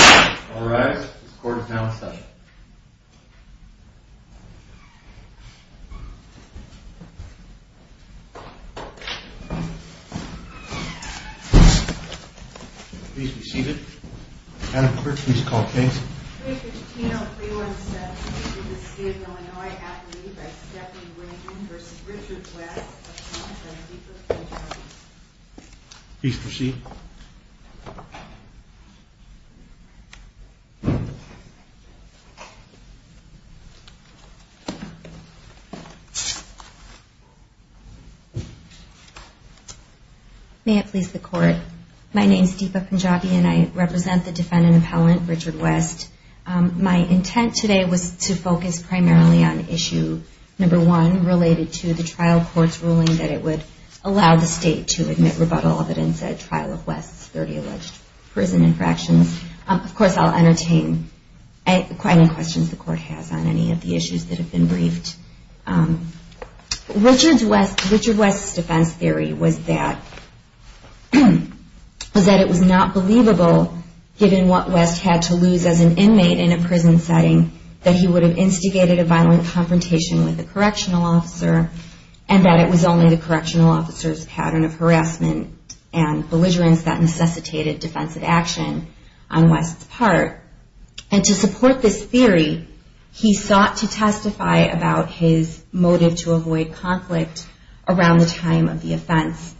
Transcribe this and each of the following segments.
All rise, this court is now in session. Please be seated. Madam Clerk, please call the case. 3-15-031-7. Defeated the state of Illinois athlete by Stephanie Winton v. Richard West. Appointment of the defense attorney. Please proceed. May it please the court. My name is Deepa Punjabi and I represent the defendant appellant Richard West. My intent today was to focus primarily on issue number one, related to the trial court's ruling that it would allow the state to admit rebuttal of evidence at trial of West's 30 alleged prison infractions. Of course, I'll entertain any questions the court has on any of the issues that have been briefed. Richard West's defense theory was that it was not believable, given what West had to lose as an inmate in a prison setting, that he would have instigated a violent confrontation with a correctional officer, and that it was only the correctional officer's pattern of harassment and belligerence that necessitated defensive action on West's part. And to support this theory, he sought to testify about his motive to avoid conflict around the time of the offense.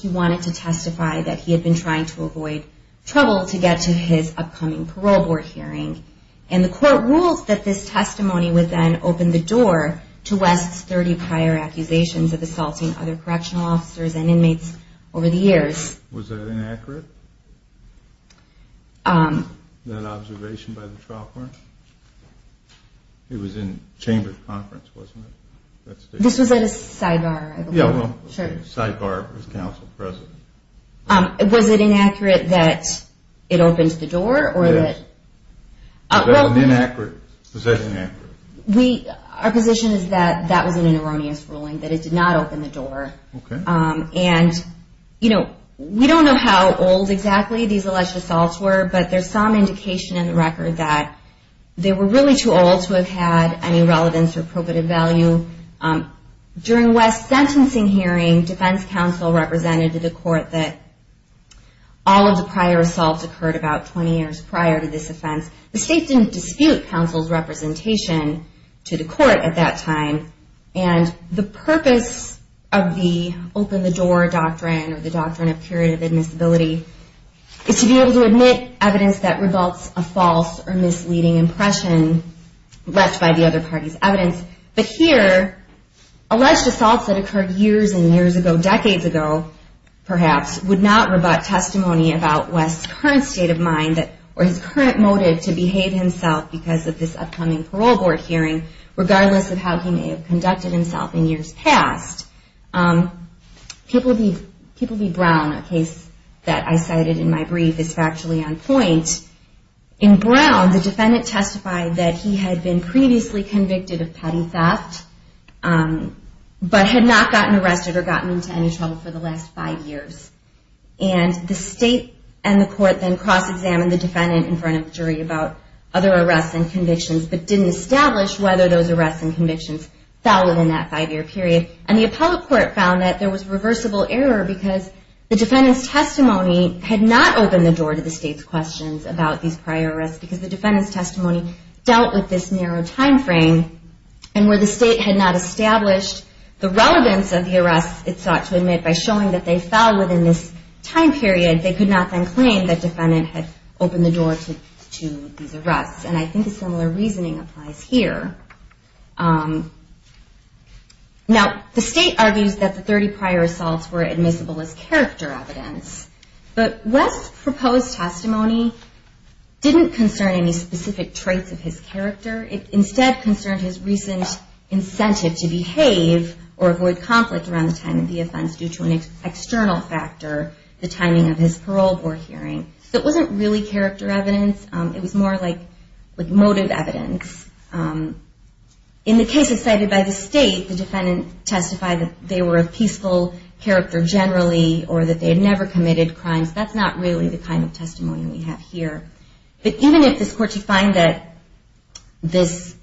He wanted to testify that he had been trying to avoid trouble to get to his upcoming parole board hearing. And the court ruled that this testimony would then open the door to West's 30 prior accusations of assaulting other correctional officers and inmates over the years. Was that inaccurate? That observation by the trial court? It was in chamber of conference, wasn't it? This was at a sidebar, I believe. Yeah, a sidebar with counsel present. Was it inaccurate that it opened the door? Yes. Was that inaccurate? Our position is that that was an erroneous ruling, that it did not open the door. Okay. And, you know, we don't know how old exactly these alleged assaults were, but there's some indication in the record that they were really too old to have had any relevance or probative value. During West's sentencing hearing, defense counsel represented to the court that all of the prior assaults occurred about 20 years prior to this offense. The state didn't dispute counsel's representation to the court at that time. And the purpose of the open the door doctrine or the doctrine of period of admissibility is to be able to admit evidence that results a false or misleading impression left by the other party's evidence. But here, alleged assaults that occurred years and years ago, decades ago, perhaps, would not rebut testimony about West's current state of mind or his current motive to behave himself because of this upcoming parole board hearing, regardless of how he may have conducted himself in years past. People view Brown, a case that I cited in my brief, as factually on point. In Brown, the defendant testified that he had been previously convicted of petty theft, but had not gotten arrested or gotten into any trouble for the last five years. And the state and the court then cross-examined the defendant in front of the jury about other arrests and convictions, but didn't establish whether those arrests and convictions fell within that five-year period. And the appellate court found that there was reversible error because the defendant's testimony dealt with this narrow time frame, and where the state had not established the relevance of the arrests it sought to admit by showing that they fell within this time period, they could not then claim that the defendant had opened the door to these arrests. And I think a similar reasoning applies here. Now, the state argues that the 30 prior assaults were admissible as character evidence, but West's proposed testimony didn't concern any specific traits of his character. It instead concerned his recent incentive to behave or avoid conflict around the time of the offense due to an external factor, the timing of his parole board hearing. So it wasn't really character evidence. It was more like motive evidence. In the cases cited by the state, the defendant testified that they were a criminal. They had never committed crimes. That's not really the kind of testimony we have here. But even if this court should find that this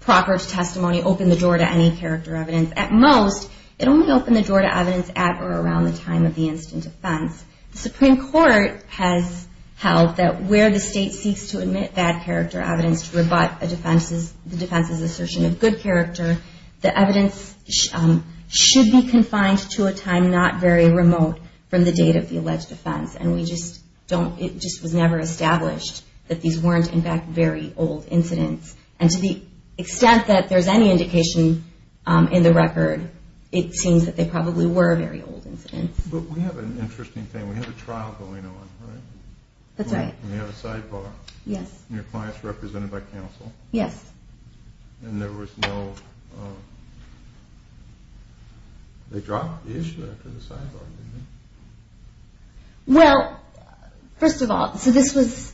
proper testimony opened the door to any character evidence, at most, it only opened the door to evidence at or around the time of the instant offense. The Supreme Court has held that where the state seeks to admit bad character evidence should be confined to a time not very remote from the date of the alleged offense. And it just was never established that these weren't, in fact, very old incidents. And to the extent that there's any indication in the record, it seems that they probably were very old incidents. But we have an interesting thing. We have a trial going on, right? That's right. We have a sidebar. Yes. And your client's represented by counsel. Yes. And there was no, they dropped the issue after the sidebar, didn't they? Well, first of all, so this was,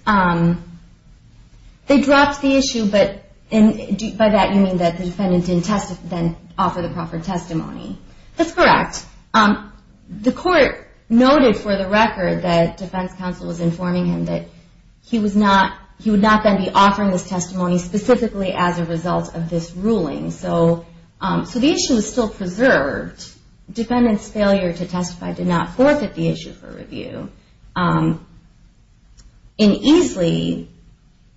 they dropped the issue, but by that you mean that the defendant didn't then offer the proper testimony. That's correct. The court noted for the record that defense counsel was informing him that he would not then be offering his testimony specifically as a result of this ruling. So the issue was still preserved. Defendant's failure to testify did not forfeit the issue for review. In Easley,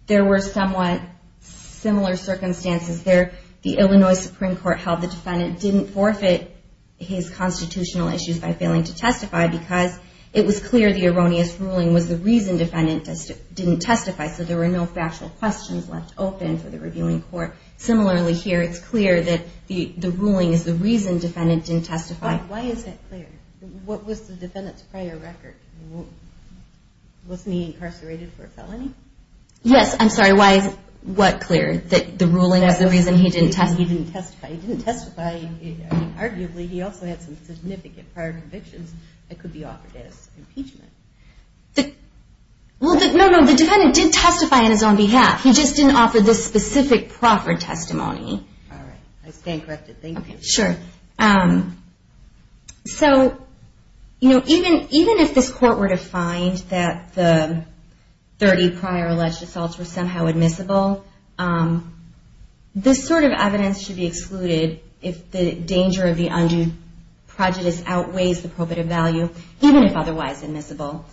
there were somewhat similar circumstances there. The Illinois Supreme Court held the defendant didn't forfeit his constitutional issues by failing to testify because it was clear the erroneous ruling was the reason defendant didn't testify. So there were no factual questions left open for the reviewing court. Similarly here, it's clear that the ruling is the reason defendant didn't testify. Why is that clear? What was the defendant's prior record? Wasn't he incarcerated for a felony? Yes. I'm sorry. Why is what clear? That the ruling is the reason he didn't testify? He didn't testify. He didn't testify. Arguably, he also had some significant prior convictions that could be offered as impeachment. Well, no, no. The defendant did testify on his own behalf. He just didn't offer this specific proffered testimony. All right. I stand corrected. Thank you. Okay. Sure. So, you know, even if this court were to find that the 30 prior alleged assaults were somehow admissible, this sort of evidence should be excluded if the danger of the undue prejudice outweighs the probative value, even if otherwise admissible.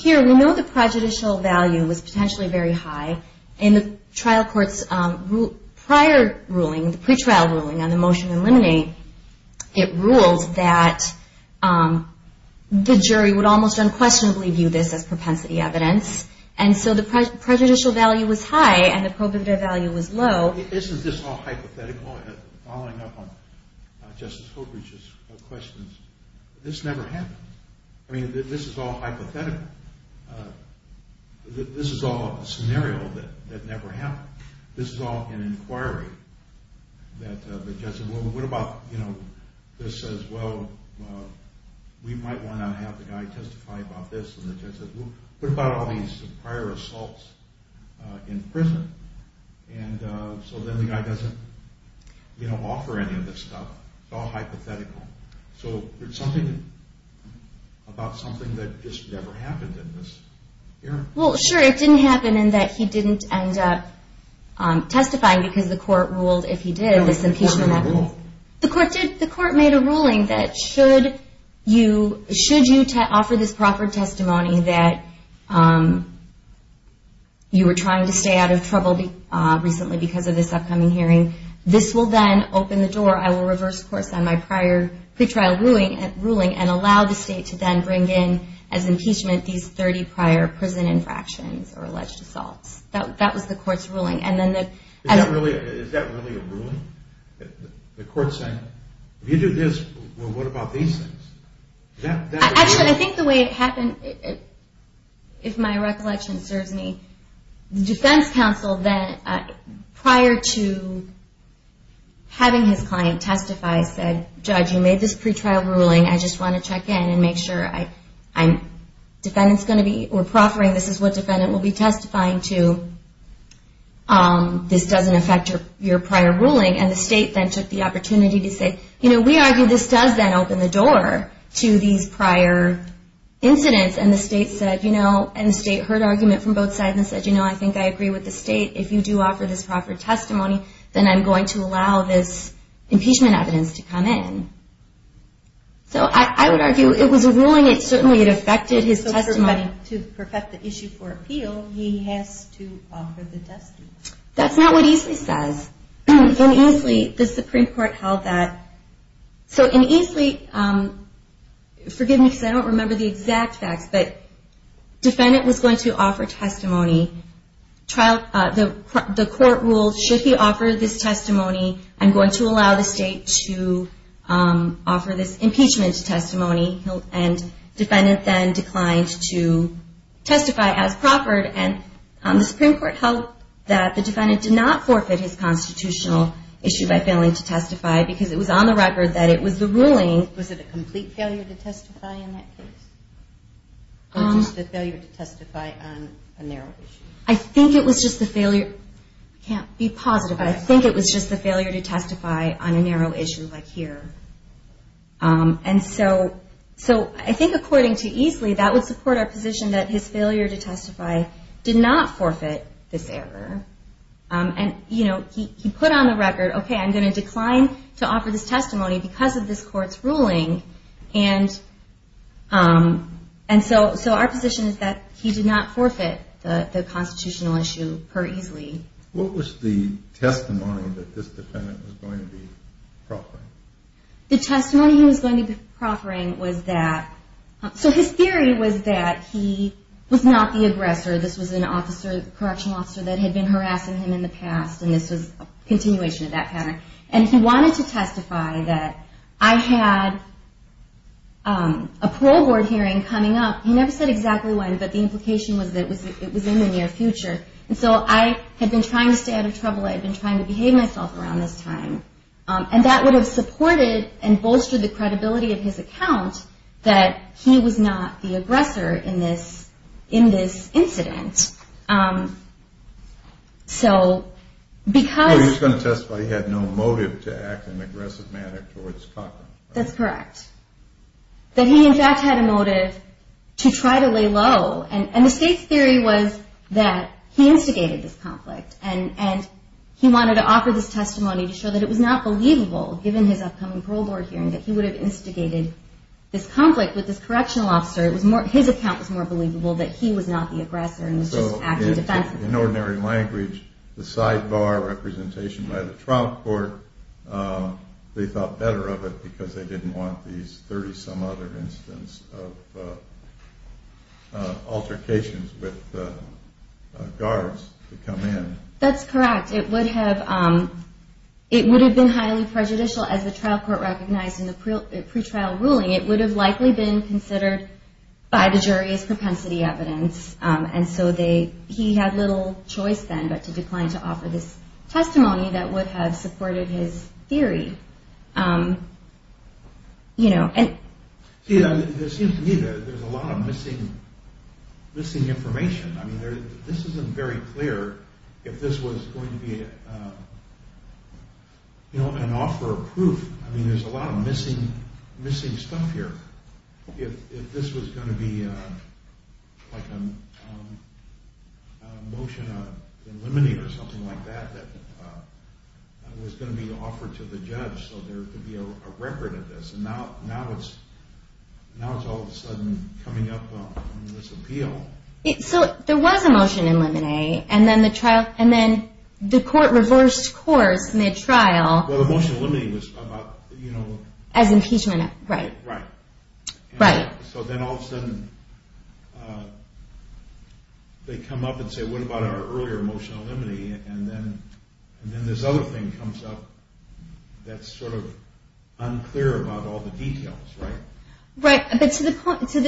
Here, we know the prejudicial value was potentially very high. In the trial court's prior ruling, the pretrial ruling on the motion to eliminate, it ruled that the jury would almost unquestionably view this as propensity evidence. And so the prejudicial value was high and the probative value was low. Isn't this all hypothetical? Following up on Justice Holbrook's questions, this never happened. I mean, this is all hypothetical. This is all a scenario that never happened. This is all an inquiry that the judge said, well, what about, you know, this says, well, we might want to have the guy testify about this. And the judge said, well, what about all these prior assaults in prison? And so then the guy doesn't, you know, offer any of this stuff. It's all hypothetical. So there's something about something that just never happened in this hearing. Well, sure, it didn't happen in that he didn't end up testifying because the court ruled if he did, this impeachment. No, the court didn't rule. The court did. The court made a ruling that should you offer this proper testimony that you were trying to stay out of trouble recently because of this upcoming hearing, this will then open the door. I will reverse course on my prior pre-trial ruling and allow the state to then bring in as impeachment these 30 prior prison infractions or alleged assaults. That was the court's ruling. Is that really a ruling? The court's saying, if you do this, well, what about these things? Actually, I think the way it happened, if my recollection serves me, the defense counsel then, prior to having his client testify, said, Judge, you made this pre-trial ruling. I just want to check in and make sure I'm, defendant's going to be, we're proffering, this is what defendant will be testifying to. This doesn't affect your prior ruling. And the state then took the opportunity to say, you know, we argue this does then open the door to these prior incidents. And the state said, you know, and the state heard argument from both sides and said, you know, I think I agree with the state. If you do offer this proper testimony, then I'm going to allow this impeachment evidence to come in. So I would argue it was a ruling. It certainly affected his testimony. To perfect the issue for appeal, he has to offer the testimony. That's not what Easley says. In Easley, the Supreme Court held that. So in Easley, forgive me because I don't remember the exact facts, but defendant was going to offer testimony. The court ruled, should he offer this testimony, I'm going to allow the state to offer this impeachment testimony. And defendant then declined to testify as proffered. And the Supreme Court held that the defendant did not forfeit his constitutional issue by failing to testify because it was on the record that it was the ruling. Was it a complete failure to testify in that case? Or just a failure to testify on a narrow issue? I think it was just a failure. I can't be positive, but I think it was just a failure to testify on a narrow issue like here. And so I think according to Easley, that would support our position that his failure to testify did not forfeit this error. And, you know, he put on the record, okay, I'm going to decline to offer this testimony because of this court's ruling. And so our position is that he did not forfeit the constitutional issue per Easley. What was the testimony that this defendant was going to be proffering? The testimony he was going to be proffering was that, so his theory was that he was not the aggressor. This was an officer, correctional officer that had been harassing him in the past, and this was a continuation of that pattern. And he wanted to testify that I had a parole board hearing coming up. He never said exactly when, but the implication was that it was in the near future. And so I had been trying to stay out of trouble. I had been trying to behave myself around this time. And that would have supported and bolstered the credibility of his account that he was not the aggressor in this incident. So because... He was going to testify he had no motive to act in an aggressive manner towards Cochran. That's correct. That he, in fact, had a motive to try to lay low. And the state's theory was that he instigated this conflict, and he wanted to offer this testimony to show that it was not believable, given his upcoming parole board hearing, that he would have instigated this conflict with this correctional officer. His account was more believable that he was not the aggressor and was just acting defensively. So in ordinary language, the sidebar representation by the trial court, they thought better of it because they didn't want these 30-some-other instances of altercations with guards to come in. That's correct. It would have been highly prejudicial as the trial court recognized in the pretrial ruling. It would have likely been considered by the jury as propensity evidence. And so he had little choice then but to decline to offer this testimony that would have supported his theory. It seems to me that there's a lot of missing information. I mean, this isn't very clear if this was going to be an offer of proof. I mean, there's a lot of missing stuff here. If this was going to be a motion in limine or something like that that was going to be offered to the judge so there could be a record of this, and now it's all of a sudden coming up on this appeal. So there was a motion in limine, and then the court reversed course mid-trial. Well, the motion in limine was about... As impeachment. Right. Right. Right. So then all of a sudden they come up and say, what about our earlier motion in limine? And then this other thing comes up that's sort of unclear about all the details, right? Right. But to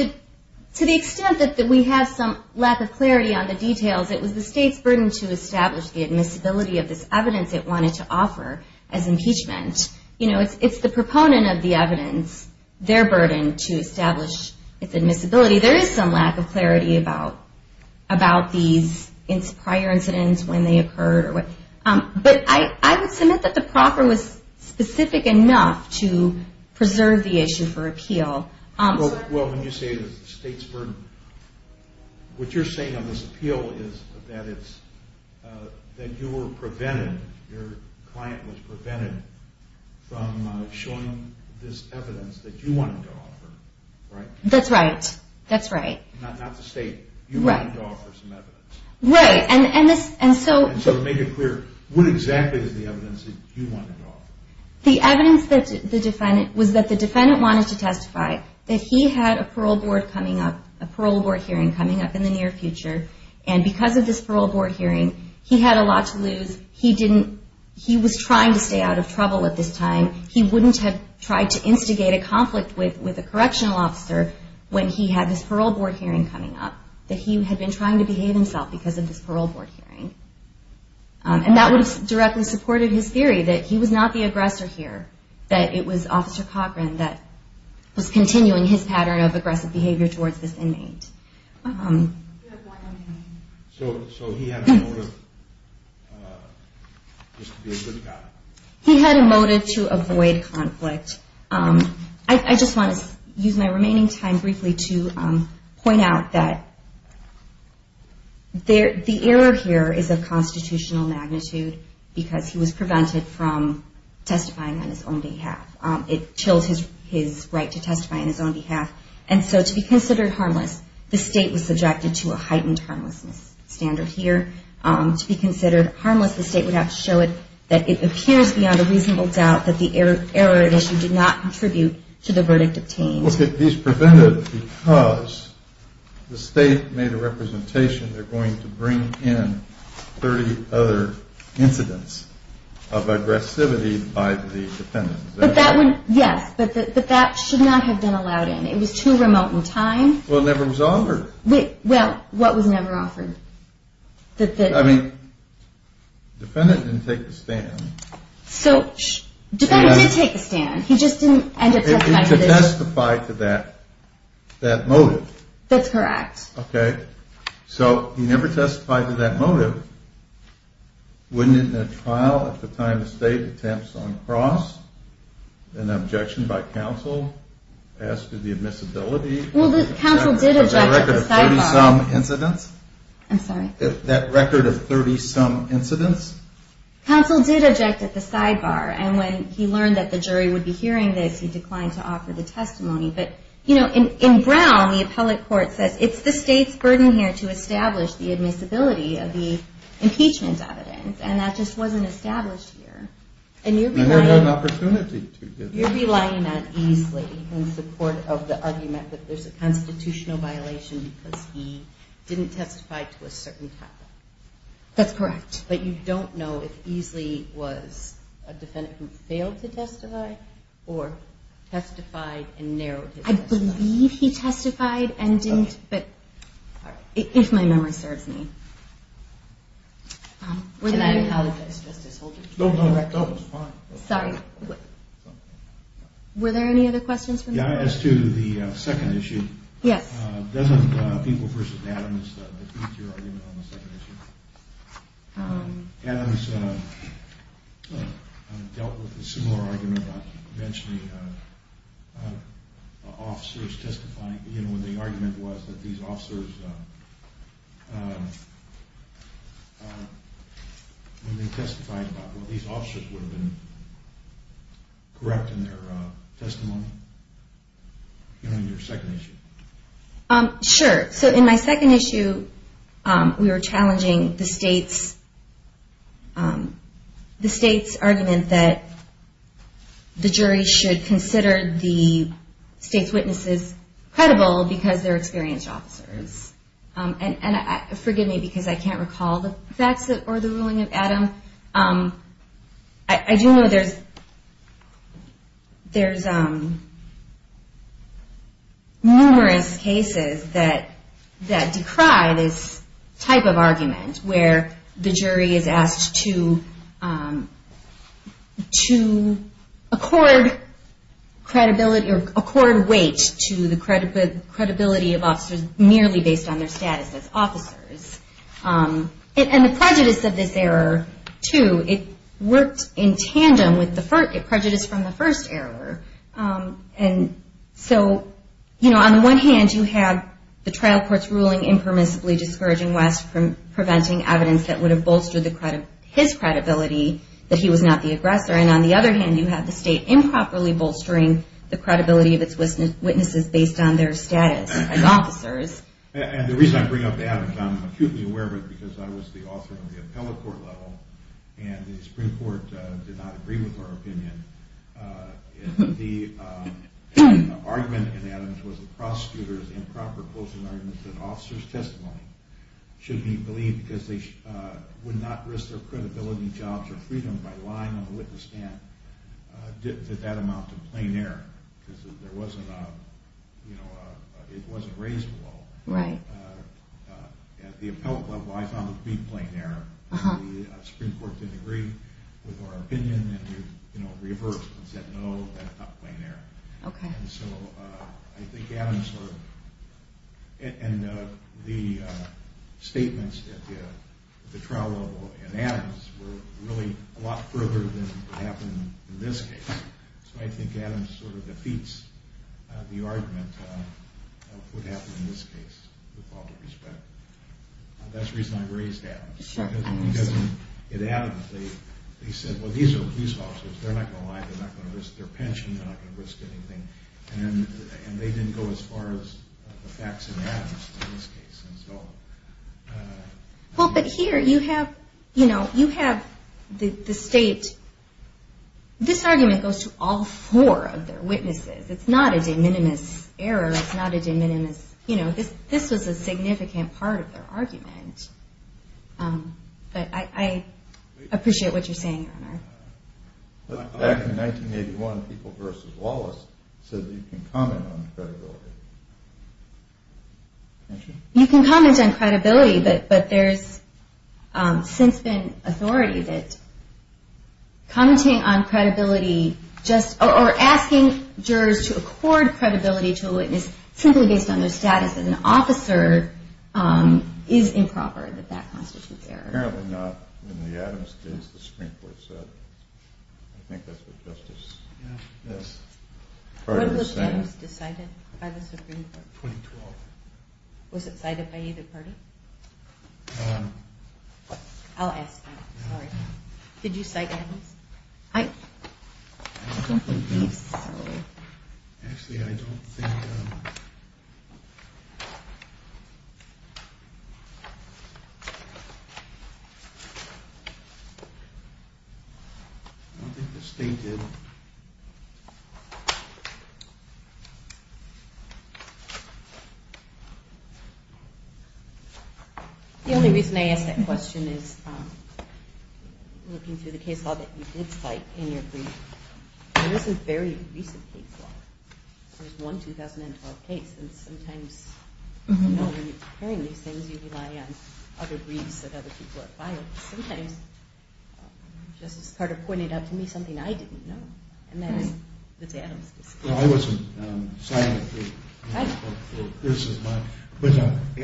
the extent that we have some lack of clarity on the details, it was the state's burden to establish the admissibility of this evidence it wanted to offer as impeachment. You know, it's the proponent of the evidence, their burden to establish its admissibility. There is some lack of clarity about these prior incidents when they occurred. But I would submit that the proffer was specific enough to preserve the issue for appeal. Well, when you say the state's burden, what you're saying on this appeal is that you were prevented, your client was prevented from showing this evidence that you wanted to offer, right? That's right. That's right. Not the state. You wanted to offer some evidence. Right. And so... The evidence that the defendant, was that the defendant wanted to testify that he had a parole board coming up, a parole board hearing coming up in the near future, and because of this parole board hearing, he had a lot to lose. He didn't, he was trying to stay out of trouble at this time. He wouldn't have tried to instigate a conflict with a correctional officer when he had this parole board hearing coming up, that he had been trying to behave himself because of this parole board hearing. And that would have directly supported his theory, that he was not the aggressor here, that it was Officer Cochran that was continuing his pattern of aggressive behavior towards this inmate. So he had a motive just to be a good guy? He had a motive to avoid conflict. I just want to use my remaining time briefly to point out that the error here is of constitutional magnitude, because he was prevented from testifying on his own behalf. It chills his right to testify on his own behalf. And so to be considered harmless, the state was subjected to a heightened harmlessness standard here. To be considered harmless, the state would have to show it that it appears beyond a reasonable doubt that the error at issue did not contribute to the verdict obtained. These prevented because the state made a representation, they're going to bring in 30 other incidents of aggressivity by the defendant. But that one, yes, but that should not have been allowed in. It was too remote in time. Well, it never was offered. Well, what was never offered? I mean, the defendant didn't take the stand. So the defendant did take the stand. He just didn't end up testifying to this. He didn't testify to that motive. That's correct. Okay. So he never testified to that motive. Wouldn't it in a trial at the time the state attempts on cross an objection by counsel as to the admissibility? Well, the counsel did object at the sidebar. That record of 30-some incidents? I'm sorry? That record of 30-some incidents? Counsel did object at the sidebar. And when he learned that the jury would be hearing this, he declined to offer the testimony. But, you know, in Brown, the appellate court says it's the state's burden here to establish the admissibility of the impeachment evidence. And that just wasn't established here. And you're denying an opportunity to do that. You're relying on Easley in support of the argument that there's a constitutional violation because he didn't testify to a certain topic. That's correct. But you don't know if Easley was a defendant who failed to testify or testified and narrowed his testimony. I believe he testified and didn't. But if my memory serves me. And I apologize, Justice Holder. No, no, no, it's fine. Sorry. Were there any other questions? Yeah, as to the second issue. Yes. It wasn't people versus Adams that beat your argument on the second issue. Adams dealt with a similar argument about eventually officers testifying, you know, when the argument was that these officers testified about what these officers would have been correct in their testimony. Your second issue. Sure. So in my second issue, we were challenging the state's argument that the jury should consider the state's witnesses credible because they're experienced officers. And forgive me because I can't recall the facts or the ruling of Adam. I do know there's numerous cases that decry this type of argument where the jury is asked to accord credibility or accord weight to the credibility of officers merely based on their status as officers. And the prejudice of this error, too, it worked in tandem with the prejudice from the first error. And so, you know, on the one hand, you have the trial court's ruling impermissibly discouraging West from preventing evidence that would have bolstered his credibility that he was not the aggressor. And on the other hand, you have the state improperly bolstering the credibility of its witnesses based on their status as officers. And the reason I bring up Adam is I'm acutely aware of it because I was the author on the appellate court level and the Supreme Court did not agree with our opinion. The argument in Adam's was that prosecutors improperly bolstering an officer's testimony should be believed because they would not risk their credibility, jobs, or freedom by lying on the witness stand to that amount of plain error because it wasn't raised well. At the appellate level, I found it to be plain error. The Supreme Court didn't agree with our opinion and reversed and said no, that's not plain error. And so I think Adam sort of... And the statements at the trial level in Adam's were really a lot further than what happened in this case. So I think Adam sort of defeats the argument of what happened in this case with all due respect. That's the reason I raised Adam's. Because in Adam's they said, well, these are police officers. They're not going to lie. They're not going to risk their pension. They're not going to risk anything. And they didn't go as far as the facts in Adam's in this case. Well, but here you have the state... This argument goes to all four of their witnesses. It's not a de minimis error. It's not a de minimis... This was a significant part of their argument. But I appreciate what you're saying, Your Honor. Back in 1981, People v. Wallace said that you can comment on credibility. Thank you. You can comment on credibility, but there's since been authority that commenting on credibility just... or asking jurors to accord credibility to a witness simply based on their status as an officer is improper, that that constitutes error. Apparently not in the Adam's case. The Supreme Court said it. I think that's what justice is. When was Adam's decided by the Supreme Court? 2012. Was it cited by either party? I'll ask that. Sorry. Did you cite Adam's? I don't think he's... Actually, I don't think... I don't think the state did. The only reason I ask that question is looking through the case law that you did cite in your brief. There is a very recent case law. There's one 2012 case. Sometimes, you know, when you're hearing these things, you rely on other briefs that other people have filed. Sometimes, Justice Carter pointed out to me something I didn't know, and that is the Adam's case. I wasn't citing it.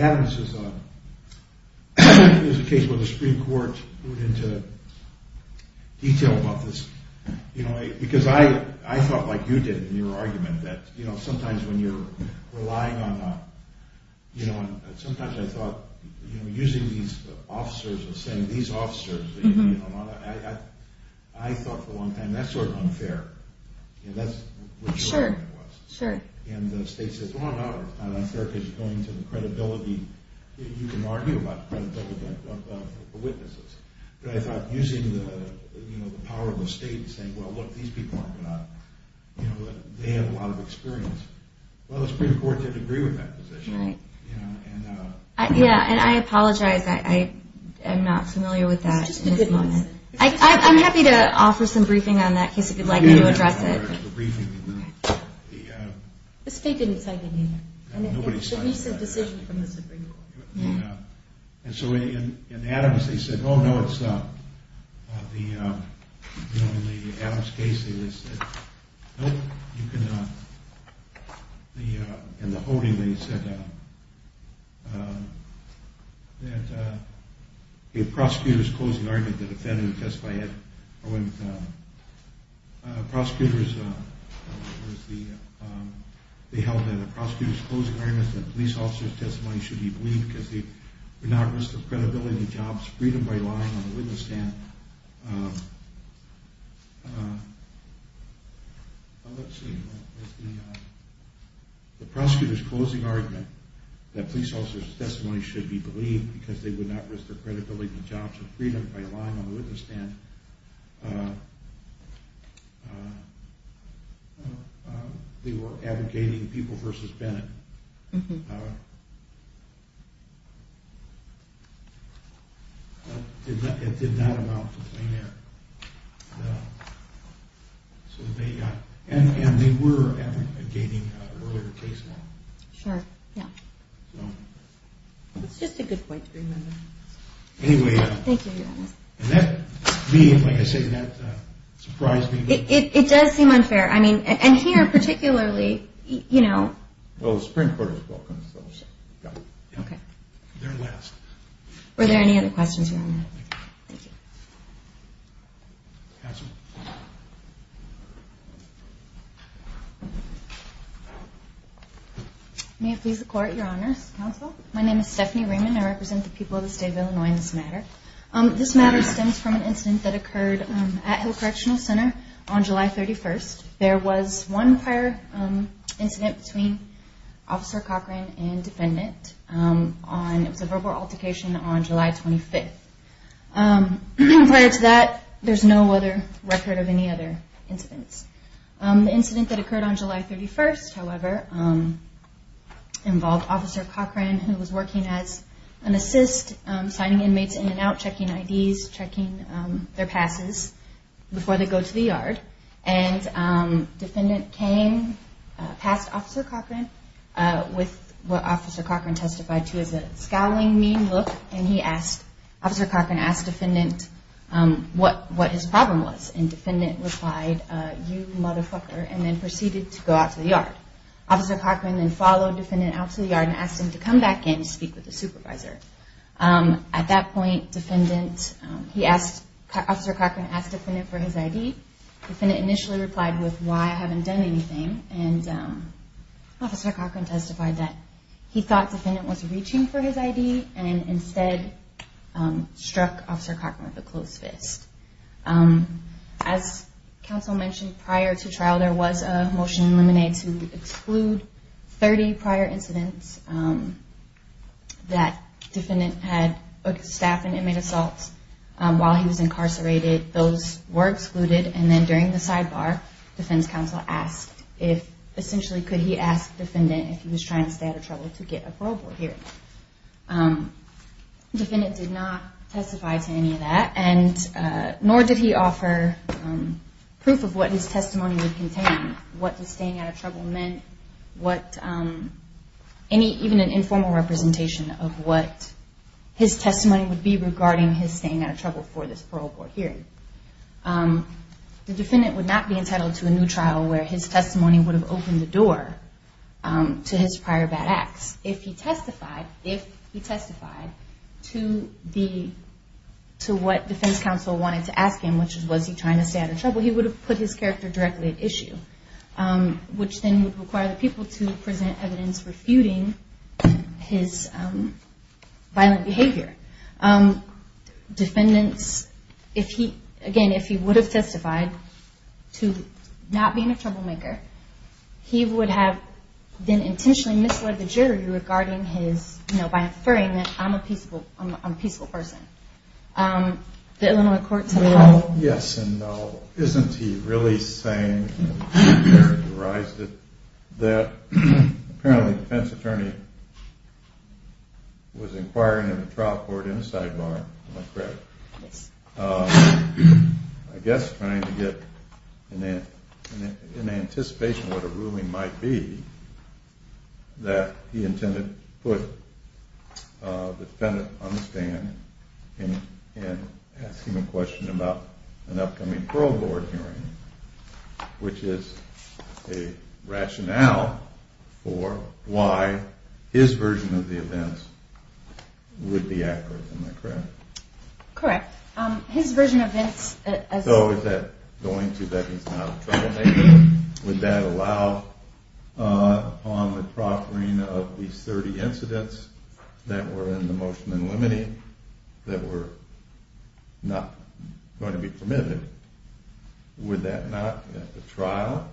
Adam's is a case where the Supreme Court went into detail about this. Because I thought, like you did in your argument, that sometimes when you're relying on... Sometimes I thought using these officers and saying these officers... I thought for a long time, that's sort of unfair. And that's what your argument was. Sure. And the state says, oh, no, it's not unfair because you're going to the credibility... You can argue about the credibility of the witnesses. But I thought using the power of the state and saying, well, look, these people aren't going to... They have a lot of experience. Well, the Supreme Court didn't agree with that position. Yeah, and I apologize. I'm not familiar with that at this moment. I'm happy to offer some briefing on that in case you'd like me to address it. The state didn't cite it either. It's a recent decision from the Supreme Court. And so in Adams, they said, oh, no, it's the... You know, in the Adams case, they said, nope, you can... In the holding, they said that a prosecutor's closing argument, the defendant testified that prosecutors... They held that a prosecutor's closing argument that police officers' testimony should be believed because they would not risk the credibility, jobs, freedom by lying on a witness stand. Let's see. The prosecutor's closing argument that police officers' testimony should be believed because they would not risk the credibility, jobs, or freedom by lying on a witness stand. And they were advocating Pupil v. Bennett. It did not amount to plain error. And they were advocating an earlier case law. Sure, yeah. It's just a good point to remember. Anyway... Thank you, Your Honor. And that being, like I said, that surprised me. It does seem unfair. I mean, and here particularly, you know... Well, the Supreme Court has broken those. Yeah. Okay. They're last. Were there any other questions, Your Honor? No. Thank you. Counsel? May it please the Court, Your Honors, Counsel? My name is Stephanie Raymond. I represent the people of the state of Illinois in this matter. This matter stems from an incident that occurred at Hill Correctional Center on July 31st. There was one prior incident between Officer Cochran and defendant. It was a verbal altercation on July 25th. Prior to that, there's no other record of any other incidents. The incident that occurred on July 31st, however, involved Officer Cochran, who was working as an assist, signing inmates in and out, checking IDs, checking their passes before they go to the yard. And defendant came past Officer Cochran with what Officer Cochran testified to as a scowling, mean look. And he asked, Officer Cochran asked defendant what his problem was. And defendant replied, you motherfucker, and then proceeded to go out to the yard. Officer Cochran then followed defendant out to the yard and asked him to come back in to speak with the supervisor. At that point, Officer Cochran asked defendant for his ID. Defendant initially replied with, why, I haven't done anything. And Officer Cochran testified that he thought defendant was reaching for his ID and instead struck Officer Cochran with a closed fist. As counsel mentioned, prior to trial, there was a motion in lemonade to exclude 30 prior incidents that defendant had staffed in inmate assaults while he was incarcerated. Those were excluded, and then during the sidebar, defense counsel asked if, essentially could he ask defendant if he was trying to stay out of trouble to get a parole board hearing. Defendant did not testify to any of that, nor did he offer proof of what his testimony would contain, what the staying out of trouble meant, even an informal representation of what his testimony would be regarding his staying out of trouble for this parole board hearing. The defendant would not be entitled to a new trial where his testimony would have opened the door to his prior bad acts. If he testified, if he testified to what defense counsel wanted to ask him, which was was he trying to stay out of trouble, he would have put his character directly at issue, which then would require the people to present evidence refuting his violent behavior. Defendants, again, if he would have testified to not being a troublemaker, he would have then intentionally misled the jury by inferring that I'm a peaceful person. The Illinois court said no. Yes and no. Isn't he really saying that apparently the defense attorney was inquiring at a trial court in a sidebar, am I correct? I guess trying to get an anticipation of what a ruling might be that he intended to put the defendant on the stand and ask him a question about an upcoming parole board hearing, which is a rationale for why his version of the events would be accurate, am I correct? Correct. So is that going to that he's not a troublemaker? Would that allow on the proffering of these 30 incidents that were in the motion in limine that were not going to be permitted? Would that not at the trial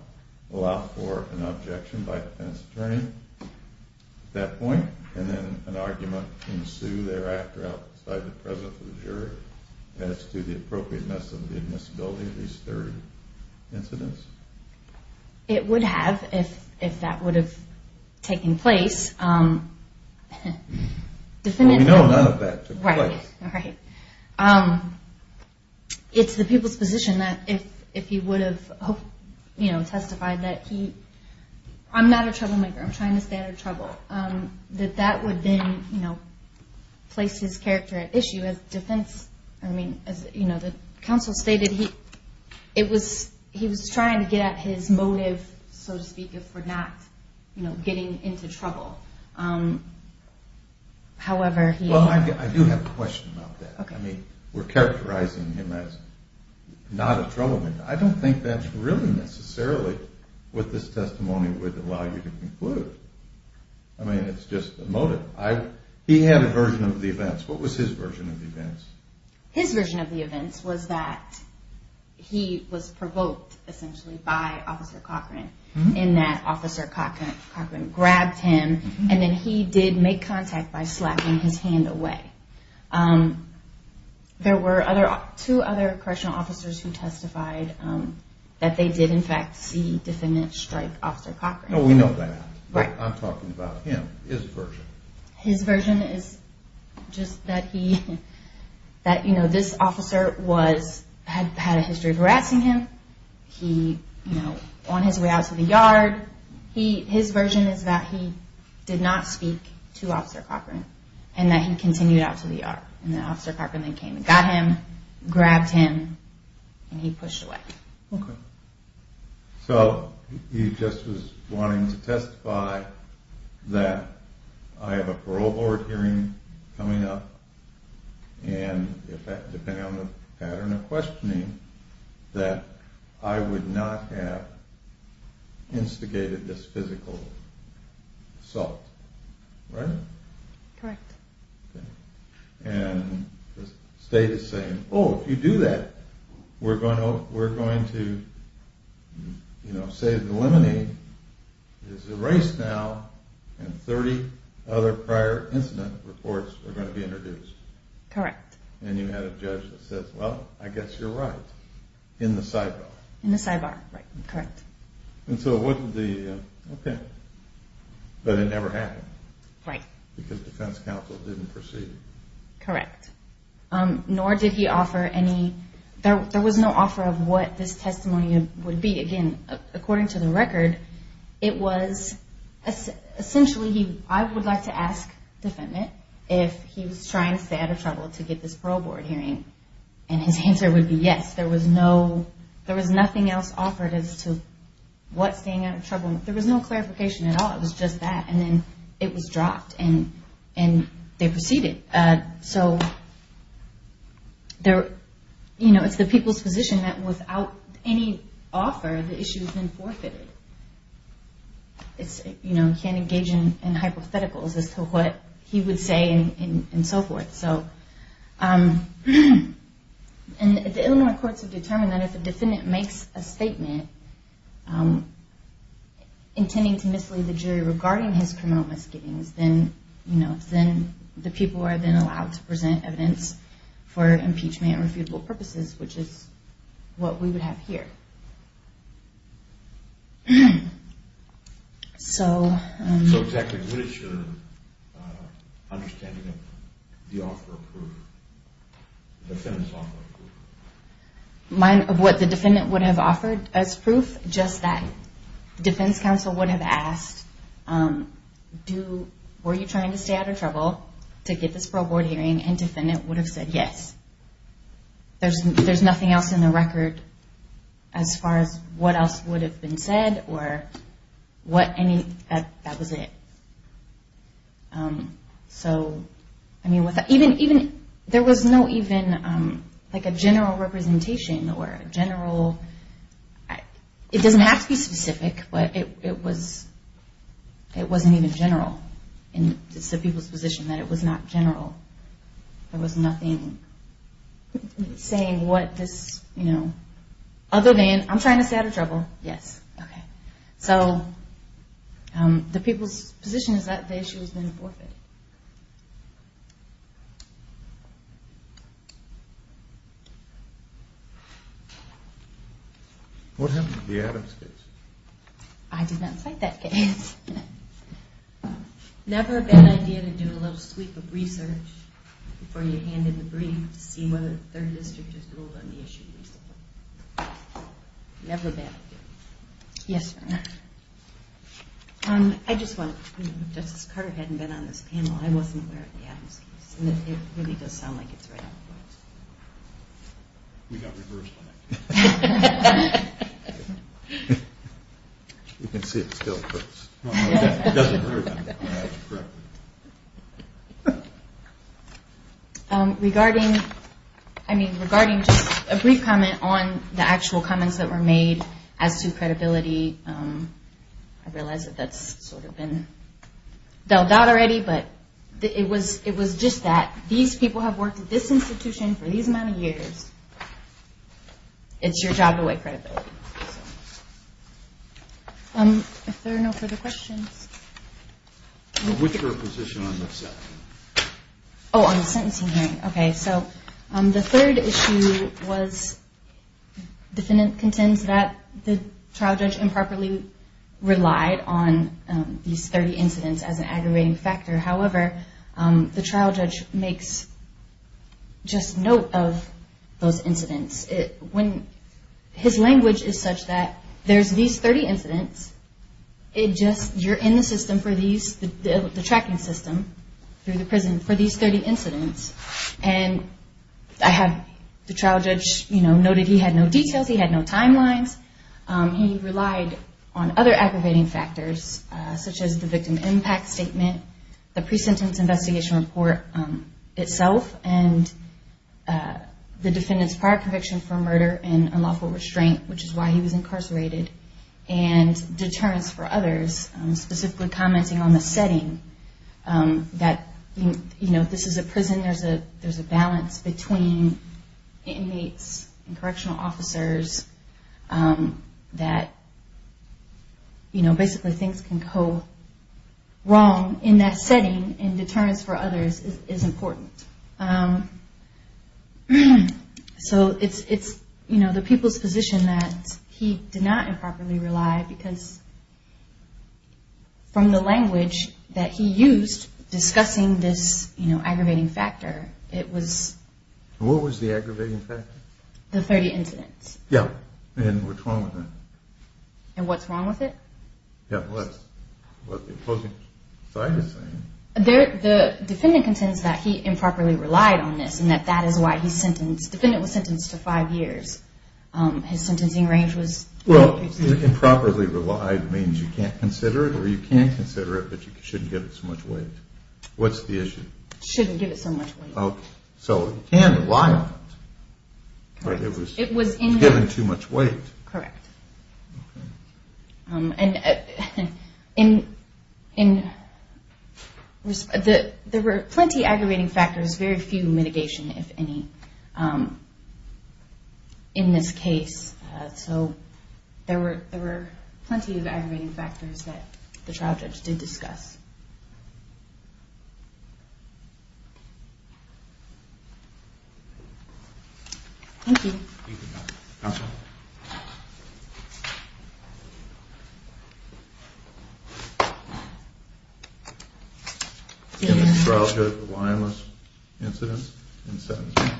allow for an objection by the defense attorney at that point? And then an argument ensue thereafter outside the presence of the jury as to the appropriateness of the admissibility of these third incidents? It would have if that would have taken place. It's the people's position that if he would have testified that he, I'm not a troublemaker, I'm trying to stay out of trouble. But that would then place his character at issue as defense. The counsel stated he was trying to get at his motive, so to speak, for not getting into trouble. I do have a question about that. We're characterizing him as not a troublemaker. I don't think that's really necessarily what this testimony would allow you to conclude. I mean it's just a motive. He had a version of the events. What was his version of the events? His version of the events was that he was provoked essentially by Officer Cochran in that Officer Cochran grabbed him and then he did make contact by slapping his hand away. There were two other correctional officers who testified that they did in fact see defendant strike Officer Cochran. We know that. I'm talking about him, his version. His version is just that this officer had a history of harassing him on his way out to the yard. His version is that he did not speak to Officer Cochran and that he continued out to the yard. And then Officer Cochran came and got him, grabbed him, and he pushed away. Okay. So he just was wanting to testify that I have a parole board hearing coming up and depending on the pattern of questioning that I would not have instigated this physical assault, right? Correct. And the state is saying oh if you do that we're going to say the limonene is erased now and 30 other prior incident reports are going to be introduced. Correct. And you had a judge that says well I guess you're right in the sidebar. Right. Correct. Nor did he offer any, there was no offer of what this testimony would be. Again according to the record it was essentially I would like to ask defendant if he was trying to stay out of trouble to get this parole board hearing and his answer would be yes. There was no, there was nothing else offered as to what staying out of trouble, there was no clarification at all. It was just that and then it was dropped and they proceeded. So it's the people's position that without any offer the issue has been forfeited. You can't engage in hypotheticals as to what he would say and so forth. And the Illinois courts have determined that if a defendant makes a statement intending to mislead the jury regarding his criminal misgivings then the people are then allowed to present evidence for impeachment and refutable purposes which is what we would have here. So exactly what is your understanding of the offer of proof, the defendant's offer of proof? Mine of what the defendant would have offered as proof just that defense counsel would have asked were you trying to stay out of trouble to get this parole board hearing and defendant would have said yes. There's nothing else in the record as far as what else would have been said or what any, that was it. So I mean even, there was no even like a general representation or a general, it doesn't have to be specific but it was, it wasn't even general. It's the people's position that it was not general. There was nothing saying what this, you know, other than I'm trying to stay out of trouble, yes, okay. So the people's position is that the issue has been forfeited. What happened to the Adams case? I did not cite that case. Never a bad idea to do a little sweep of research before you hand in the brief to see whether the third district has ruled on the issue. Never a bad idea. Yes, ma'am. I just want to, Justice Carter hadn't been on this panel, I wasn't aware of the Adams case and it really does sound like it's right on point. We got reversed on that. You can see it still hurts. It doesn't hurt anymore, that's correct. Regarding, I mean regarding just a brief comment on the actual comments that were made as to credibility. I realize that that's sort of been dealt out already but it was just that these people have worked at this institution for these amount of years. It's your job to weigh credibility. If there are no further questions. Oh, on the sentencing hearing, okay. So the third issue was defendant contends that the trial judge improperly relied on these 30 incidents as an aggravating factor. However, the trial judge makes just note of those incidents. His language is such that there's these 30 incidents, you're in the system for these, the tracking system through the prison for these 30 incidents. And I have the trial judge noted he had no details, he had no timelines. He relied on other aggravating factors such as the victim impact statement, the pre-sentence investigation report itself and the defendant's prior conviction report. He also relied on the statute for murder and unlawful restraint, which is why he was incarcerated. And deterrence for others, specifically commenting on the setting that this is a prison, there's a balance between inmates and correctional officers that basically things can go wrong in that setting and deterrence for others is important. It's the people's position that he did not improperly rely because from the language that he used discussing this aggravating factor, it was What was the aggravating factor? The 30 incidents. Yeah, and what's wrong with it? Yeah, well, that's what the opposing side is saying. The defendant contends that he improperly relied on this and that that is why he's sentenced. The defendant was sentenced to five years. Well, improperly relied means you can't consider it or you can consider it but you shouldn't give it so much weight. What's the issue? Shouldn't give it so much weight. So he can rely on it, but it was given too much weight. Correct. There were plenty of aggravating factors, very few mitigation, if any, in this case. So there were plenty of aggravating factors that the trial judge did discuss. Thank you. Counsel? In the trial judge reliance incident, in sentencing,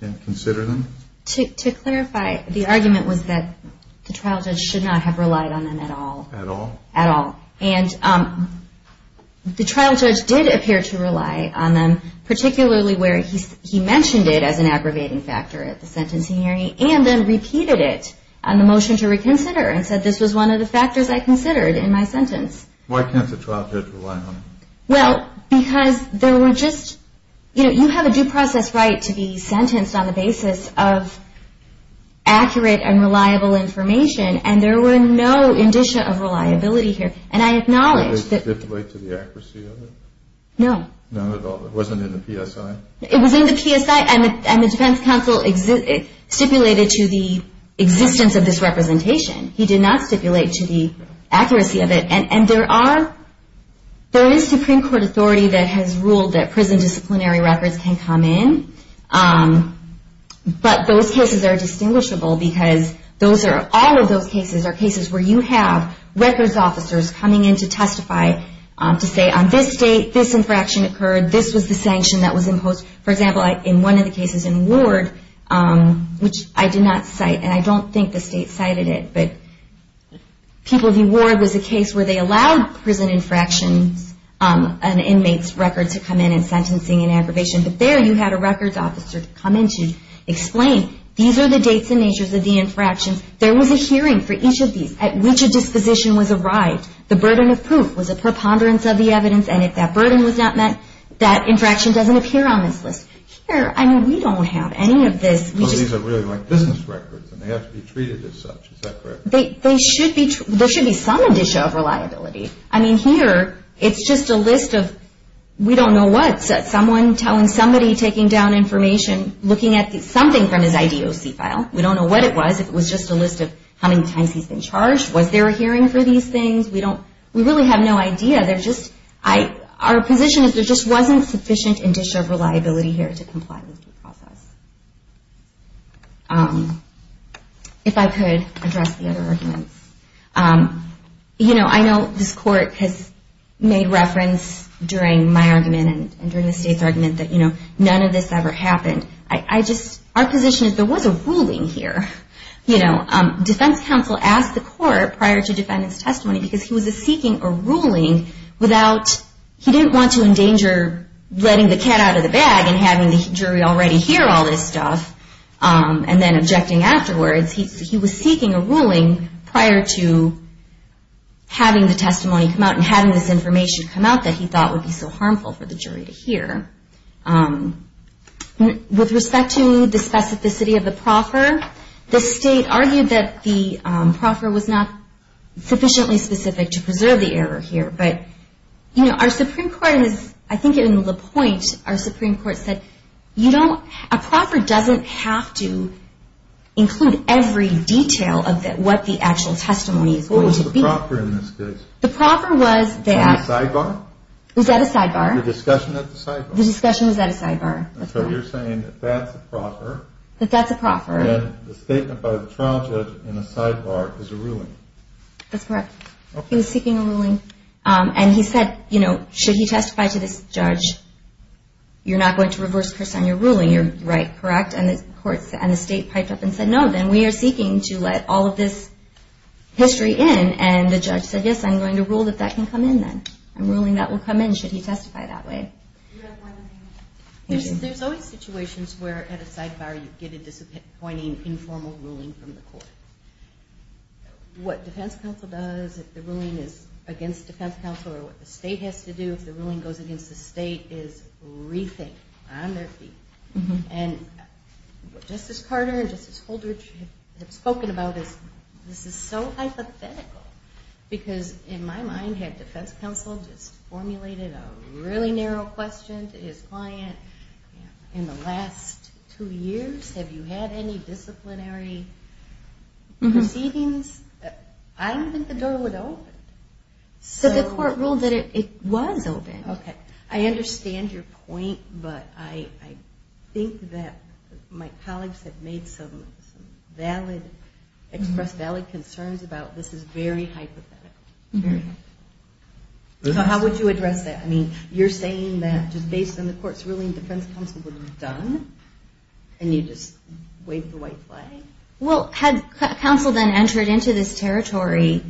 can't consider them? To clarify, the argument was that the trial judge should not have relied on them at all. At all. At all. And the trial judge did appear to rely on them, particularly where he mentioned it as an aggravating factor at the sentencing hearing and then repeated it on the motion to reconsider and said this was one of the factors I considered in my sentence. Why can't the trial judge rely on them? Well, because there were just, you know, you have a due process right to be sentenced on the basis of accurate and reliable information and there were no indicia of reliability here. Did they stipulate to the accuracy of it? No. Not at all. It wasn't in the PSI? It was in the PSI and the defense counsel stipulated to the existence of this representation. He did not stipulate to the accuracy of it. And there is Supreme Court authority that has ruled that prison disciplinary records can come in, but those cases are distinguishable because all of those cases are cases where you have records officers coming in to testify to say on this date, this infraction occurred, this was the sanction that was imposed. For example, in one of the cases in Ward, which I did not cite, and I don't think the state cited it, but people view Ward as a case where they allowed prison infractions and inmates' records to come in and sentencing and aggravation, but there you had a records officer come in to explain these are the dates and natures of the infractions. There was a hearing for each of these at which a disposition was arrived. The burden of proof was a preponderance of the evidence and if that burden was not met, that infraction doesn't appear on this list. Here, I mean, we don't have any of this. There should be some addition of reliability. I mean, here, it's just a list of we don't know what. Someone telling somebody taking down information, looking at something from his IDOC file. We don't know what it was. If it was just a list of how many times he's been charged, was there a hearing for these things? We really have no idea. Our position is there just wasn't sufficient addition of reliability here to comply with the process. If I could address the other arguments. I know this court has made reference during my argument and during the state's argument that none of this ever happened. Our position is there was a ruling here. Defense counsel asked the court prior to defendant's testimony because he was seeking a ruling without, he didn't want to endanger letting the cat out of the bag and having the jury already hear all this stuff and then objecting afterwards. He was seeking a ruling prior to having the testimony come out and having this information come out that he thought would be so harmful for the jury to hear. With respect to the specificity of the proffer, the state argued that the proffer was not sufficiently specific to preserve the error here. But our Supreme Court, I think in LaPointe, our Supreme Court said, a proffer doesn't have to include every detail of what the actual testimony is going to be. What was the proffer in this case? Was that a sidebar? The discussion was at a sidebar. So you're saying that that's a proffer and the statement by the trial judge in a sidebar is a ruling. That's correct. He was seeking a ruling and he said, you know, should he testify to this judge, you're not going to reverse curse on your ruling, you're right, correct? And the state piped up and said, no, then we are seeking to let all of this history in. And the judge said, yes, I'm going to rule that that can come in then. I'm ruling that will come in should he testify that way. There's always situations where at a sidebar you get a disappointing informal ruling from the court. What defense counsel does, if the ruling is against defense counsel or what the state has to do, if the ruling goes against the state, is rethink on their feet. And Justice Carter and Justice Holdridge have spoken about this. This is so hypothetical because in my mind, had defense counsel just formulated a really narrow question to his client in the last two years, have you had any disciplinary proceedings? I don't think the door would open. So the court ruled that it was open. Okay. I understand your point, but I think that my colleagues have made some valid, expressed valid concerns about this is very hypothetical. So how would you address that? I mean, you're saying that just based on the court's ruling, defense counsel would be done? And you just wave the white flag? Well, had counsel then entered into this territory?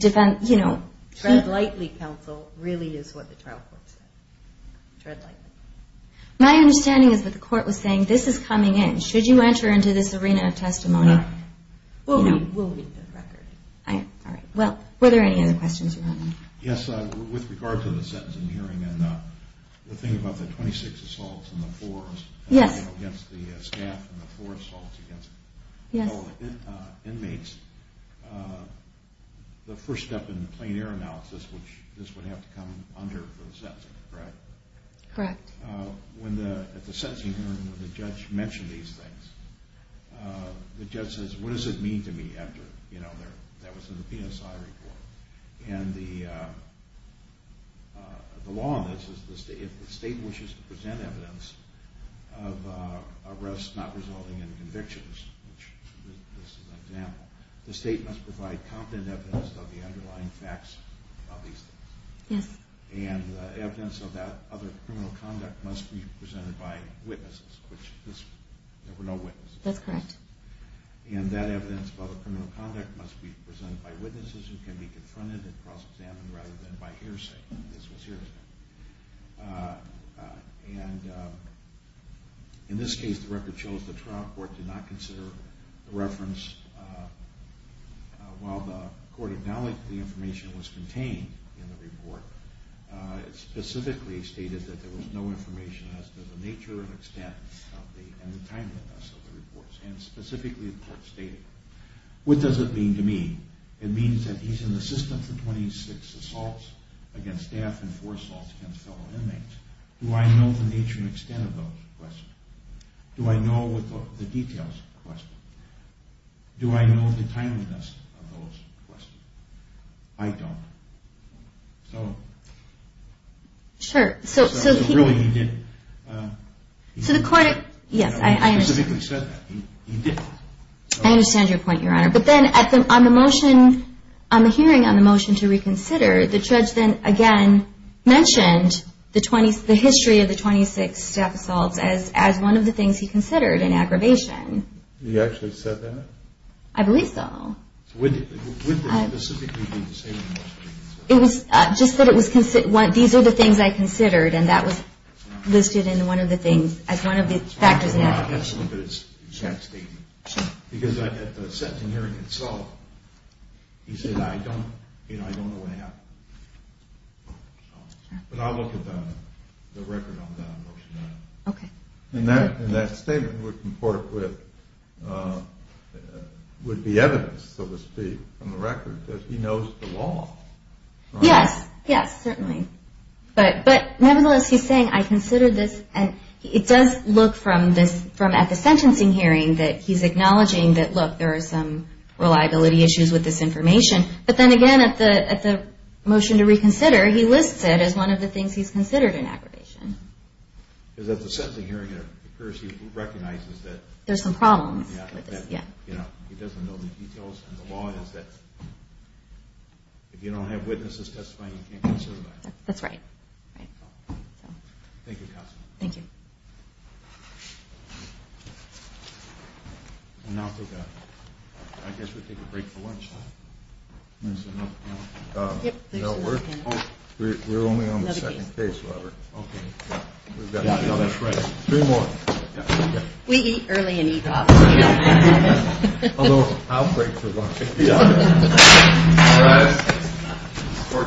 Tread lightly, counsel, really is what the trial court said. My understanding is that the court was saying, this is coming in. Should you enter into this arena of testimony? We'll read the record. Yes, with regard to the sentencing hearing and the thing about the 26 assaults and the four against the staff and the four assaults against all the inmates, the first step in the plain air analysis, which this would have to come under for the sentencing, correct? The judge says, what does it mean to me after that was in the PSI report? And the law on this is if the state wishes to present evidence of arrests not resulting in convictions, which this is an example, the state must provide competent evidence of the underlying facts of these things. Yes. And the evidence of that other criminal conduct must be presented by witnesses. There were no witnesses. And that evidence of other criminal conduct must be presented by witnesses who can be confronted and cross-examined rather than by hearsay. In this case, the record shows the trial court did not consider the reference while the court acknowledged the information was contained in the report. It specifically stated that there was no information as to the nature and extent and timeliness of the reports. What does it mean to me? It means that he's an assistant for 26 assaults against staff and four assaults against fellow inmates. Do I know the nature and extent of those questions? Do I know the details of the questions? Do I know the timeliness of those questions? I don't. I understand your point, Your Honor. But then on the motion, on the hearing on the motion to reconsider, the judge then again mentioned the history of the 26 staff assaults as one of the things he considered in aggravation. He actually said that? I believe so. Would there specifically be the same thing? These are the things I considered, and that was listed as one of the factors in aggravation. I'm not going to look at his exact statement, because at the sentencing hearing itself, he said, I don't know what happened. But I'll look at the record on the motion. Okay. And that statement would be evidence, so to speak, from the record, that he knows the law. Yes, yes, certainly. But nevertheless, he's saying, I considered this, and it does look from at the sentencing hearing that he's acknowledging that, look, there are some reliability issues with this information. But then again, at the motion to reconsider, he lists it as one of the things he's considered in aggravation. Because at the sentencing hearing, it appears he recognizes that there's some problems with this. He doesn't know the details, and the law is that if you don't have witnesses testifying, you can't consider that. That's right. Thank you, counsel. Thank you. I guess we take a break for lunch. We're only on the second case, Robert. We eat early and eat often. Although I'll break for lunch. All right.